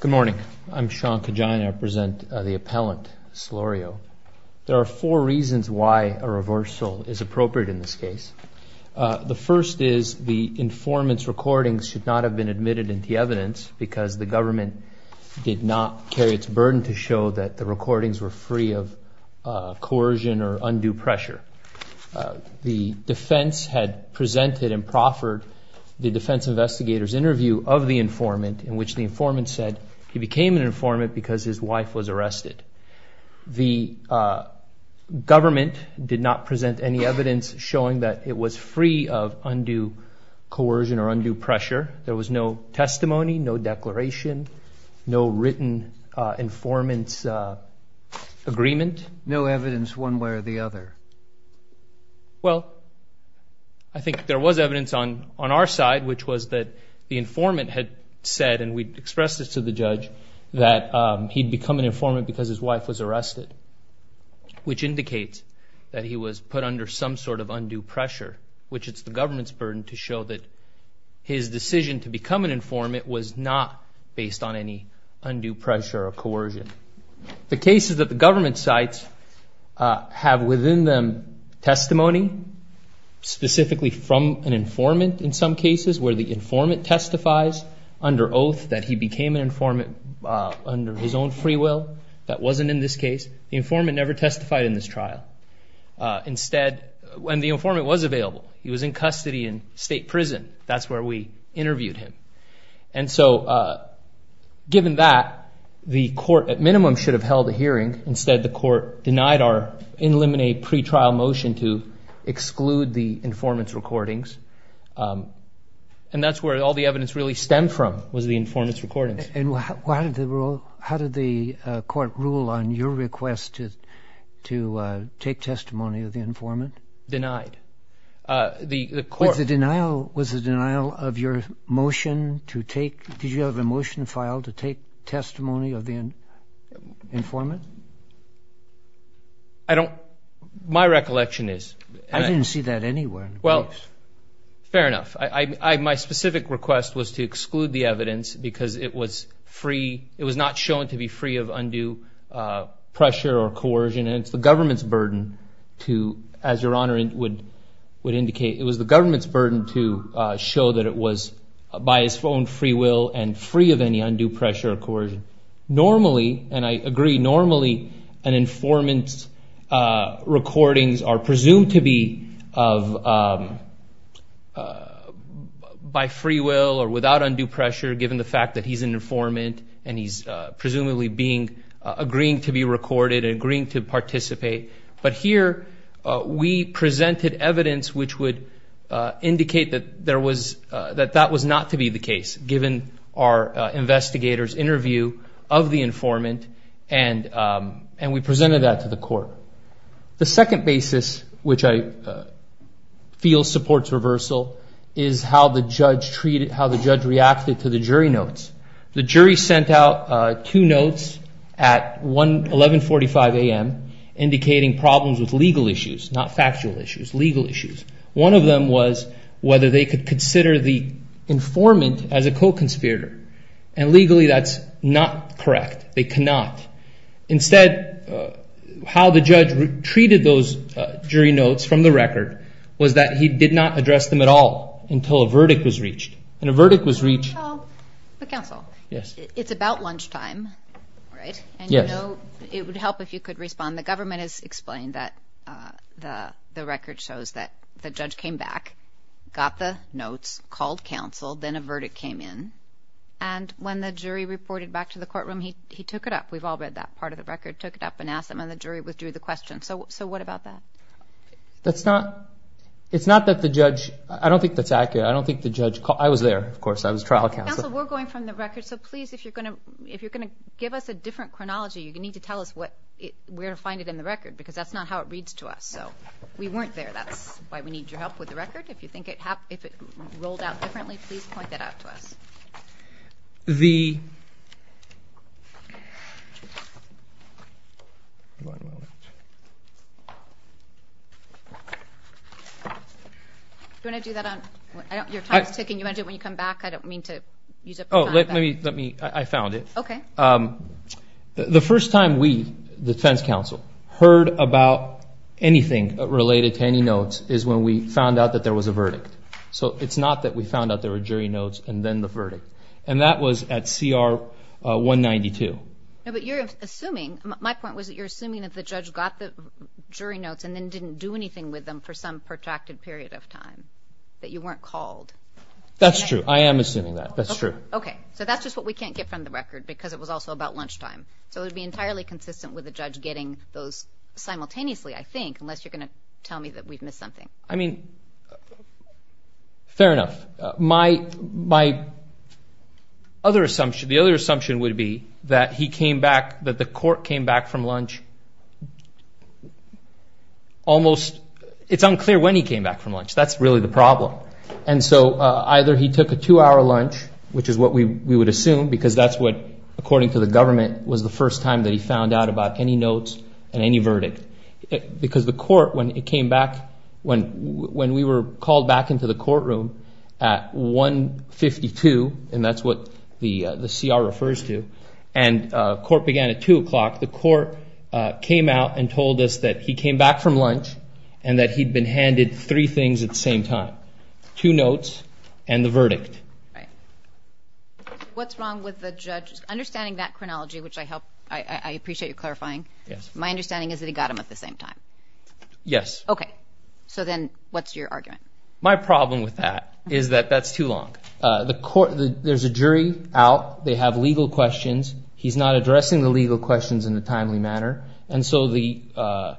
Good morning. I'm Sean Kajan. I represent the appellant Solorio. There are four reasons why a reversal is appropriate in this case. The first is the informant's recordings should not have been admitted into evidence because the government did not carry its burden to show that the recordings were free of coercion or undue pressure. The defense had presented and proffered the defense investigator's interview of the informant in which the informant said he became an informant because his wife was arrested. The government did not present any evidence showing that it was free of undue coercion or undue pressure. There was no testimony, no declaration, no written informant's agreement. And no evidence one way or the other? Well, I think there was evidence on our side, which was that the informant had said, and we expressed this to the judge, that he'd become an informant because his wife was arrested, which indicates that he was put under some sort of undue pressure, which it's the government's burden to show that his decision to become an informant was not based on any undue pressure or coercion. The cases that the government cites have within them testimony, specifically from an informant in some cases, where the informant testifies under oath that he became an informant under his own free will. That wasn't in this case. The informant never testified in this trial. Instead, when the informant was available, he was in custody in state prison. That's where we interviewed him. And so given that, the court at minimum should have held a hearing. Instead, the court denied our in limine pre-trial motion to exclude the informant's recordings. And that's where all the evidence really stemmed from was the informant's recordings. And how did the court rule on your request to take testimony of the informant? Denied. Was the denial of your motion to take, did you have a motion filed to take testimony of the informant? I don't, my recollection is. I didn't see that anywhere. Well, fair enough. My specific request was to exclude the evidence because it was free, it was not shown to be free of undue pressure or coercion. And it's the government's burden to, as your Honor would indicate, it was the government's burden to show that it was by his own free will and free of any undue pressure or coercion. Normally, and I agree, normally an informant's recordings are presumed to be by free will or without undue pressure given the fact that he's an informant and he's presumably agreeing to be recorded and agreeing to participate. But here we presented evidence which would indicate that that was not to be the case, given our investigator's interview of the informant, and we presented that to the court. The second basis, which I feel supports reversal, is how the judge reacted to the jury notes. The jury sent out two notes at 1145 a.m. indicating problems with legal issues, not factual issues, legal issues. One of them was whether they could consider the informant as a co-conspirator. And legally that's not correct. They cannot. Instead, how the judge treated those jury notes from the record was that he did not address them at all until a verdict was reached. Oh, but counsel, it's about lunchtime, right? Yes. And you know it would help if you could respond. The government has explained that the record shows that the judge came back, got the notes, called counsel, then a verdict came in, and when the jury reported back to the courtroom, he took it up. We've all read that part of the record, took it up and asked them, and the jury withdrew the question. So what about that? It's not that the judge – I don't think that's accurate. I don't think the judge – I was there, of course. I was trial counsel. Counsel, we're going from the record, so please, if you're going to give us a different chronology, you need to tell us where to find it in the record because that's not how it reads to us. So we weren't there. That's why we need your help with the record. If you think it rolled out differently, please point that out to us. The – Do you want to do that on – your time is ticking. Do you want to do it when you come back? I don't mean to use up your time. Oh, let me – I found it. Okay. The first time we, the defense counsel, heard about anything related to any notes is when we found out that there was a verdict. So it's not that we found out there were jury notes and then the verdict. And that was at CR 192. No, but you're assuming – my point was that you're assuming that the judge got the jury notes and then didn't do anything with them for some protracted period of time, that you weren't called. That's true. I am assuming that. That's true. Okay. So that's just what we can't get from the record because it was also about lunchtime. So it would be entirely consistent with the judge getting those simultaneously, I think, unless you're going to tell me that we've missed something. I mean, fair enough. My other assumption, the other assumption would be that he came back, that the court came back from lunch almost – it's unclear when he came back from lunch. That's really the problem. And so either he took a two-hour lunch, which is what we would assume, because that's what, according to the government, was the first time that he found out about any notes and any verdict. Because the court, when we were called back into the courtroom at 1.52, and that's what the CR refers to, and court began at 2 o'clock, the court came out and told us that he came back from lunch and that he'd been handed three things at the same time, two notes and the verdict. Right. What's wrong with the judge? Understanding that chronology, which I appreciate you clarifying, my understanding is that he got them at the same time. Yes. Okay. So then what's your argument? My problem with that is that that's too long. There's a jury out. They have legal questions. He's not addressing the legal questions in a timely manner. And so the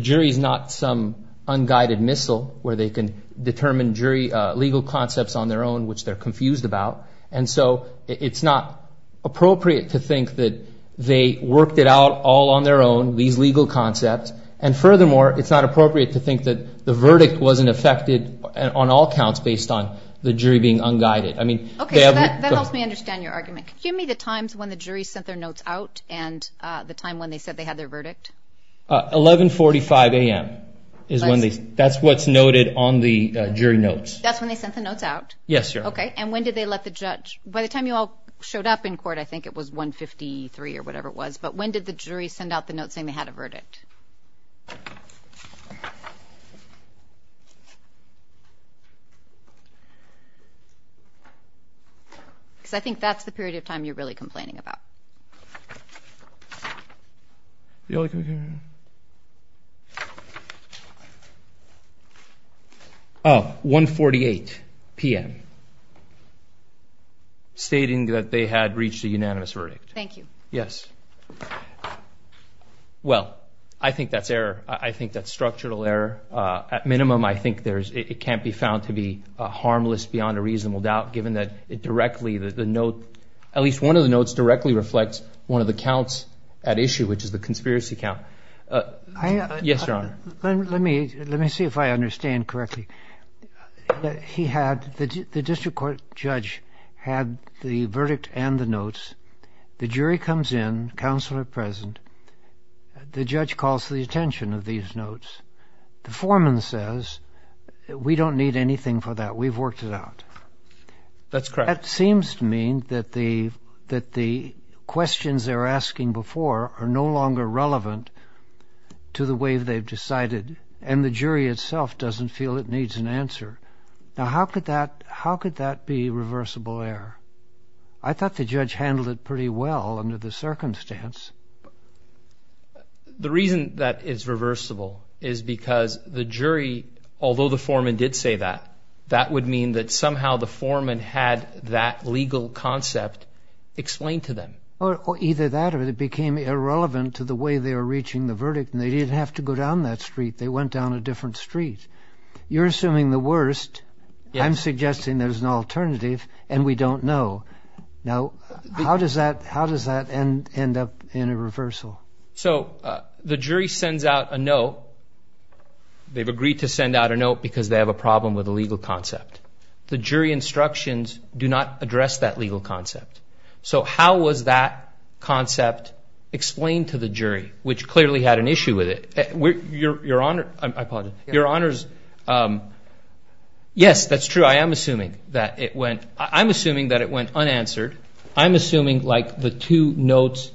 jury is not some unguided missile where they can determine jury legal concepts on their own, which they're confused about. And so it's not appropriate to think that they worked it out all on their own, these legal concepts, and furthermore, it's not appropriate to think that the verdict wasn't affected on all counts based on the jury being unguided. Okay. That helps me understand your argument. Give me the times when the jury sent their notes out and the time when they said they had their verdict. 11.45 a.m. That's what's noted on the jury notes. That's when they sent the notes out? Yes, Your Honor. Okay. And when did they let the judge? By the time you all showed up in court, I think it was 1.53 or whatever it was. But when did the jury send out the notes saying they had a verdict? Because I think that's the period of time you're really complaining about. The only time you're really complaining. Oh, 1.48 p.m., stating that they had reached a unanimous verdict. Thank you. Yes. Well, I think that's error. I think that's structural error. At minimum, I think it can't be found to be harmless beyond a reasonable doubt, given that it directly, the note, at least one of the notes directly reflects one of the counts at issue, which is the conspiracy count. Yes, Your Honor. Let me see if I understand correctly. The district court judge had the verdict and the notes. The jury comes in, counsel are present. The judge calls the attention of these notes. The foreman says, we don't need anything for that. We've worked it out. That's correct. That seems to mean that the questions they're asking before are no longer relevant to the way they've decided, and the jury itself doesn't feel it needs an answer. Now, how could that be reversible error? I thought the judge handled it pretty well under the circumstance. The reason that it's reversible is because the jury, although the foreman did say that, that would mean that somehow the foreman had that legal concept explained to them. Either that or it became irrelevant to the way they were reaching the verdict, and they didn't have to go down that street. They went down a different street. You're assuming the worst. I'm suggesting there's an alternative, and we don't know. Now, how does that end up in a reversal? So the jury sends out a note. They've agreed to send out a note because they have a problem with a legal concept. The jury instructions do not address that legal concept. So how was that concept explained to the jury, which clearly had an issue with it? Your Honor, I apologize. Your Honors, yes, that's true. I am assuming that it went unanswered. I'm assuming, like, the two notes,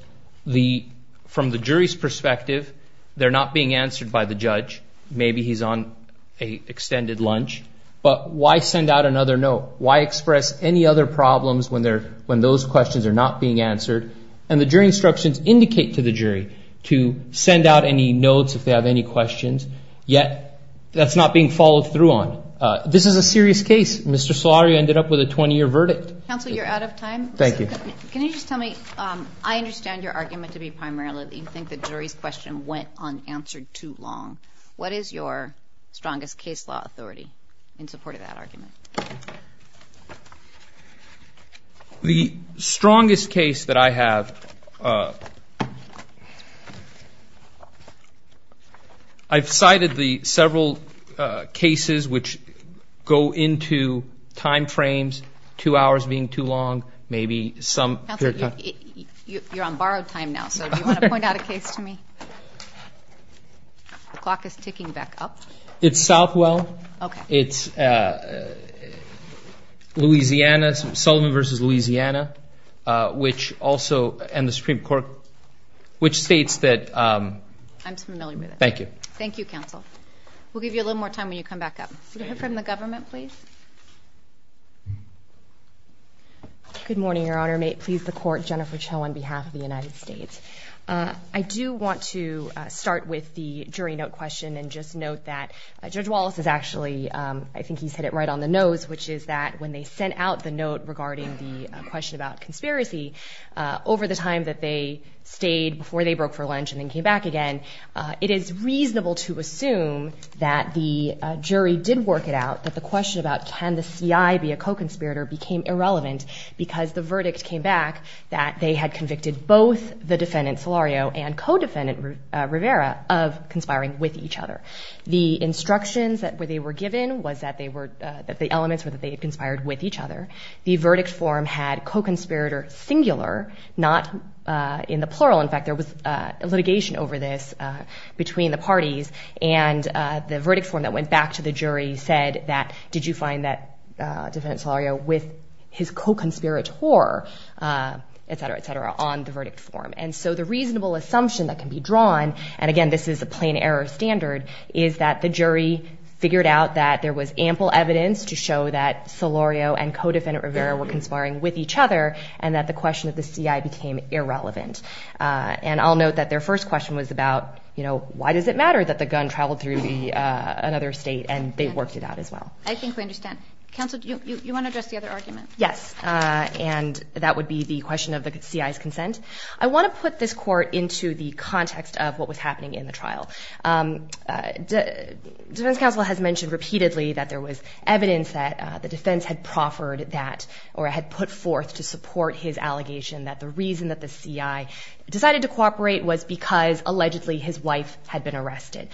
from the jury's perspective, they're not being answered by the judge. Maybe he's on an extended lunch. But why send out another note? Why express any other problems when those questions are not being answered? And the jury instructions indicate to the jury to send out any notes if they have any questions, yet that's not being followed through on. This is a serious case. Mr. Solari ended up with a 20-year verdict. Counsel, you're out of time. Thank you. Can you just tell me, I understand your argument to be primarily that you think the jury's question went unanswered too long. What is your strongest case law authority in support of that argument? The strongest case that I have, I've cited the several cases which go into time frames, two hours being too long, maybe some. Counsel, you're on borrowed time now, so do you want to point out a case to me? The clock is ticking back up. It's Southwell. Okay. It's Louisiana, Sullivan v. Louisiana, which also, and the Supreme Court, which states that- I'm familiar with it. Thank you. Thank you, Counsel. We'll give you a little more time when you come back up. We'll hear from the government, please. Good morning, Your Honor. May it please the Court, Jennifer Cho on behalf of the United States. I do want to start with the jury note question and just note that Judge Wallace is actually, I think he's hit it right on the nose, which is that when they sent out the note regarding the question about conspiracy, over the time that they stayed before they broke for lunch and then came back again, it is reasonable to assume that the jury did work it out, that the question about can the CI be a co-conspirator became irrelevant because the verdict came back that they had convicted both the defendant, Solario, and co-defendant, Rivera, of conspiring with each other. The instructions that they were given was that they were, that the elements were that they had conspired with each other. The verdict form had co-conspirator singular, not in the plural. In fact, there was litigation over this between the parties, and the verdict form that went back to the jury said that, did you find that defendant Solario with his co-conspirator, et cetera, et cetera, on the verdict form. And so the reasonable assumption that can be drawn, and again, this is a plain error standard, is that the jury figured out that there was ample evidence to show that Solario and co-defendant Rivera were conspiring with each other, and that the question of the CI became irrelevant. And I'll note that their first question was about, you know, why does it matter that the gun traveled through another state, and they worked it out as well. I think we understand. Counsel, do you want to address the other argument? Yes, and that would be the question of the CI's consent. I want to put this court into the context of what was happening in the trial. Defense counsel has mentioned repeatedly that there was evidence that the defense had proffered that or had put forth to support his allegation, that the reason that the CI decided to cooperate was because, allegedly, his wife had been arrested.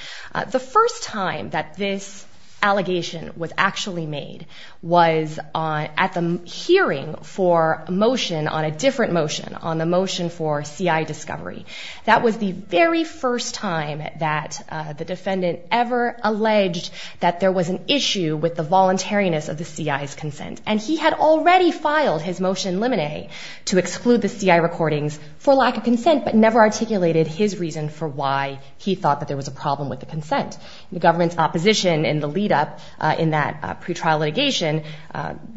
The first time that this allegation was actually made was at the hearing for motion, on a different motion, on the motion for CI discovery. That was the very first time that the defendant ever alleged that there was an issue with the voluntariness of the CI's consent. And he had already filed his motion limine to exclude the CI recordings for lack of consent, but never articulated his reason for why he thought that there was a problem with the consent. The government's opposition in the lead-up in that pretrial litigation,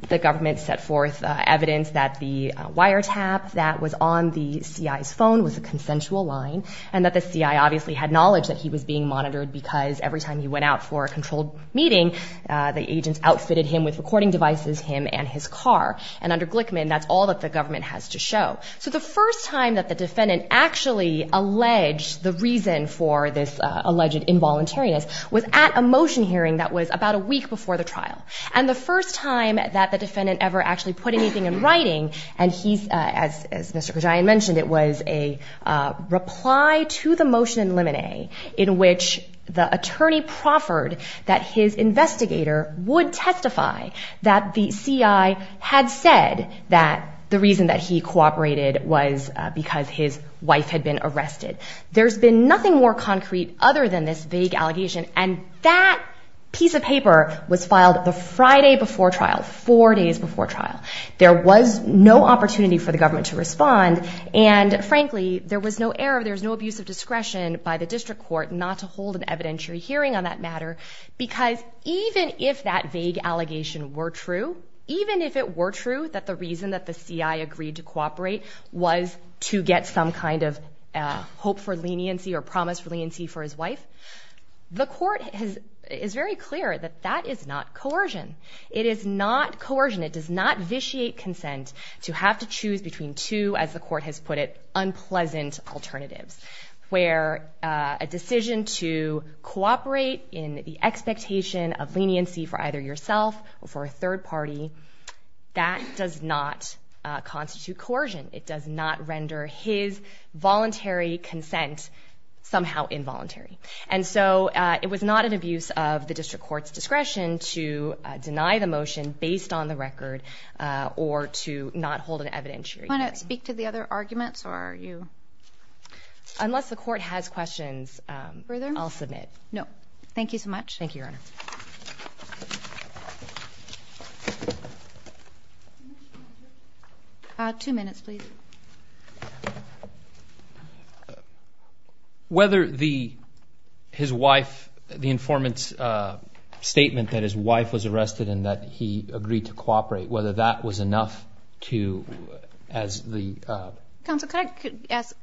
the government set forth evidence that the wiretap that was on the CI's phone was a consensual line, and that the CI obviously had knowledge that he was being monitored because every time he went out for a controlled meeting, the agents outfitted him with recording devices, him and his car. And under Glickman, that's all that the government has to show. So the first time that the defendant actually alleged the reason for this alleged involuntariness was at a motion hearing that was about a week before the trial. And the first time that the defendant ever actually put anything in writing, and he's, as Mr. Gajayan mentioned, it was a reply to the motion in limine in which the attorney proffered that his investigator would testify that the CI had said that the reason that he cooperated was because his wife had been arrested. There's been nothing more concrete other than this vague allegation, and that piece of paper was filed the Friday before trial, four days before trial. And frankly, there was no error, there was no abuse of discretion by the district court not to hold an evidentiary hearing on that matter, because even if that vague allegation were true, even if it were true that the reason that the CI agreed to cooperate was to get some kind of hope for leniency or promise for leniency for his wife, the court is very clear that that is not coercion. It is not coercion. It does not vitiate consent to have to choose between two, as the court has put it, unpleasant alternatives where a decision to cooperate in the expectation of leniency for either yourself or for a third party, that does not constitute coercion. It does not render his voluntary consent somehow involuntary. And so it was not an abuse of the district court's discretion to deny the motion based on the record or to not hold an evidentiary hearing. Do you want to speak to the other arguments, or are you? Unless the court has questions, I'll submit. No. Thank you so much. Thank you, Your Honor. Two minutes, please. Thank you. Whether his wife, the informant's statement that his wife was arrested and that he agreed to cooperate, whether that was enough to, as the... Counsel, could I ask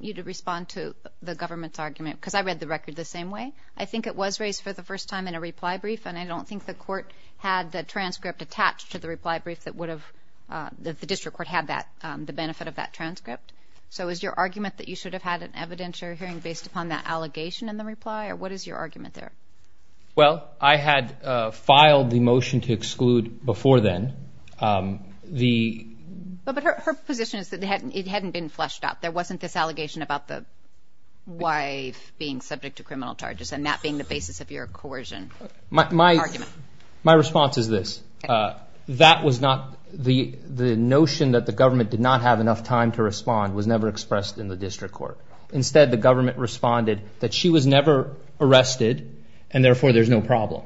you to respond to the government's argument? Because I read the record the same way. I think it was raised for the first time in a reply brief, and I don't think the court had the transcript attached to the reply brief that the district court had the benefit of that transcript. So is your argument that you should have had an evidentiary hearing based upon that allegation in the reply, or what is your argument there? Well, I had filed the motion to exclude before then. But her position is that it hadn't been fleshed out. There wasn't this allegation about the wife being subject to criminal charges and that being the basis of your coercion argument. My response is this. That was not the notion that the government did not have enough time to respond was never expressed in the district court. Instead, the government responded that she was never arrested, and therefore there's no problem.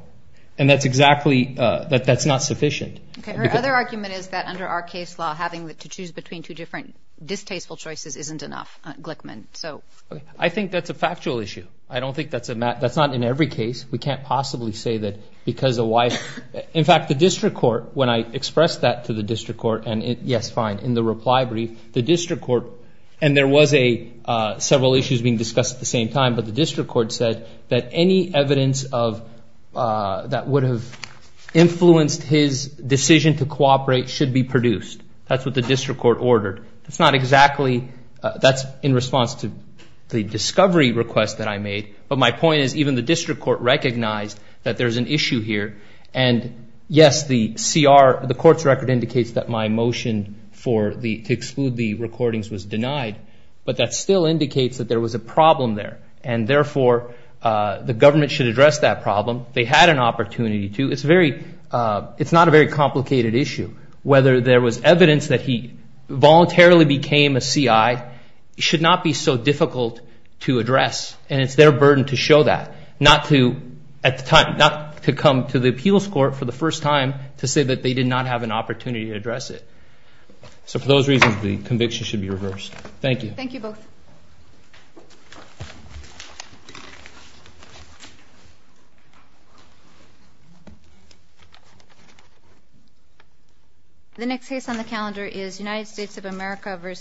And that's exactly, that's not sufficient. Her other argument is that under our case law, having to choose between two different distasteful choices isn't enough, Glickman. I think that's a factual issue. I don't think that's a matter, that's not in every case. We can't possibly say that because the wife, in fact, the district court, when I expressed that to the district court, and yes, fine, in the reply brief, the district court, and there was several issues being discussed at the same time, but the district court said that any evidence that would have influenced his decision to cooperate should be produced. That's what the district court ordered. That's not exactly, that's in response to the discovery request that I made. But my point is even the district court recognized that there's an issue here, and yes, the CR, the court's record indicates that my motion for the, to exclude the recordings was denied, but that still indicates that there was a problem there, and therefore the government should address that problem. They had an opportunity to. It's very, it's not a very complicated issue. Whether there was evidence that he voluntarily became a CI should not be so difficult to address, and it's their burden to show that, not to, at the time, not to come to the appeals court for the first time to say that they did not have an opportunity to address it. So for those reasons, the conviction should be reversed. Thank you. Thank you both. The next case on the calendar is United States of America v.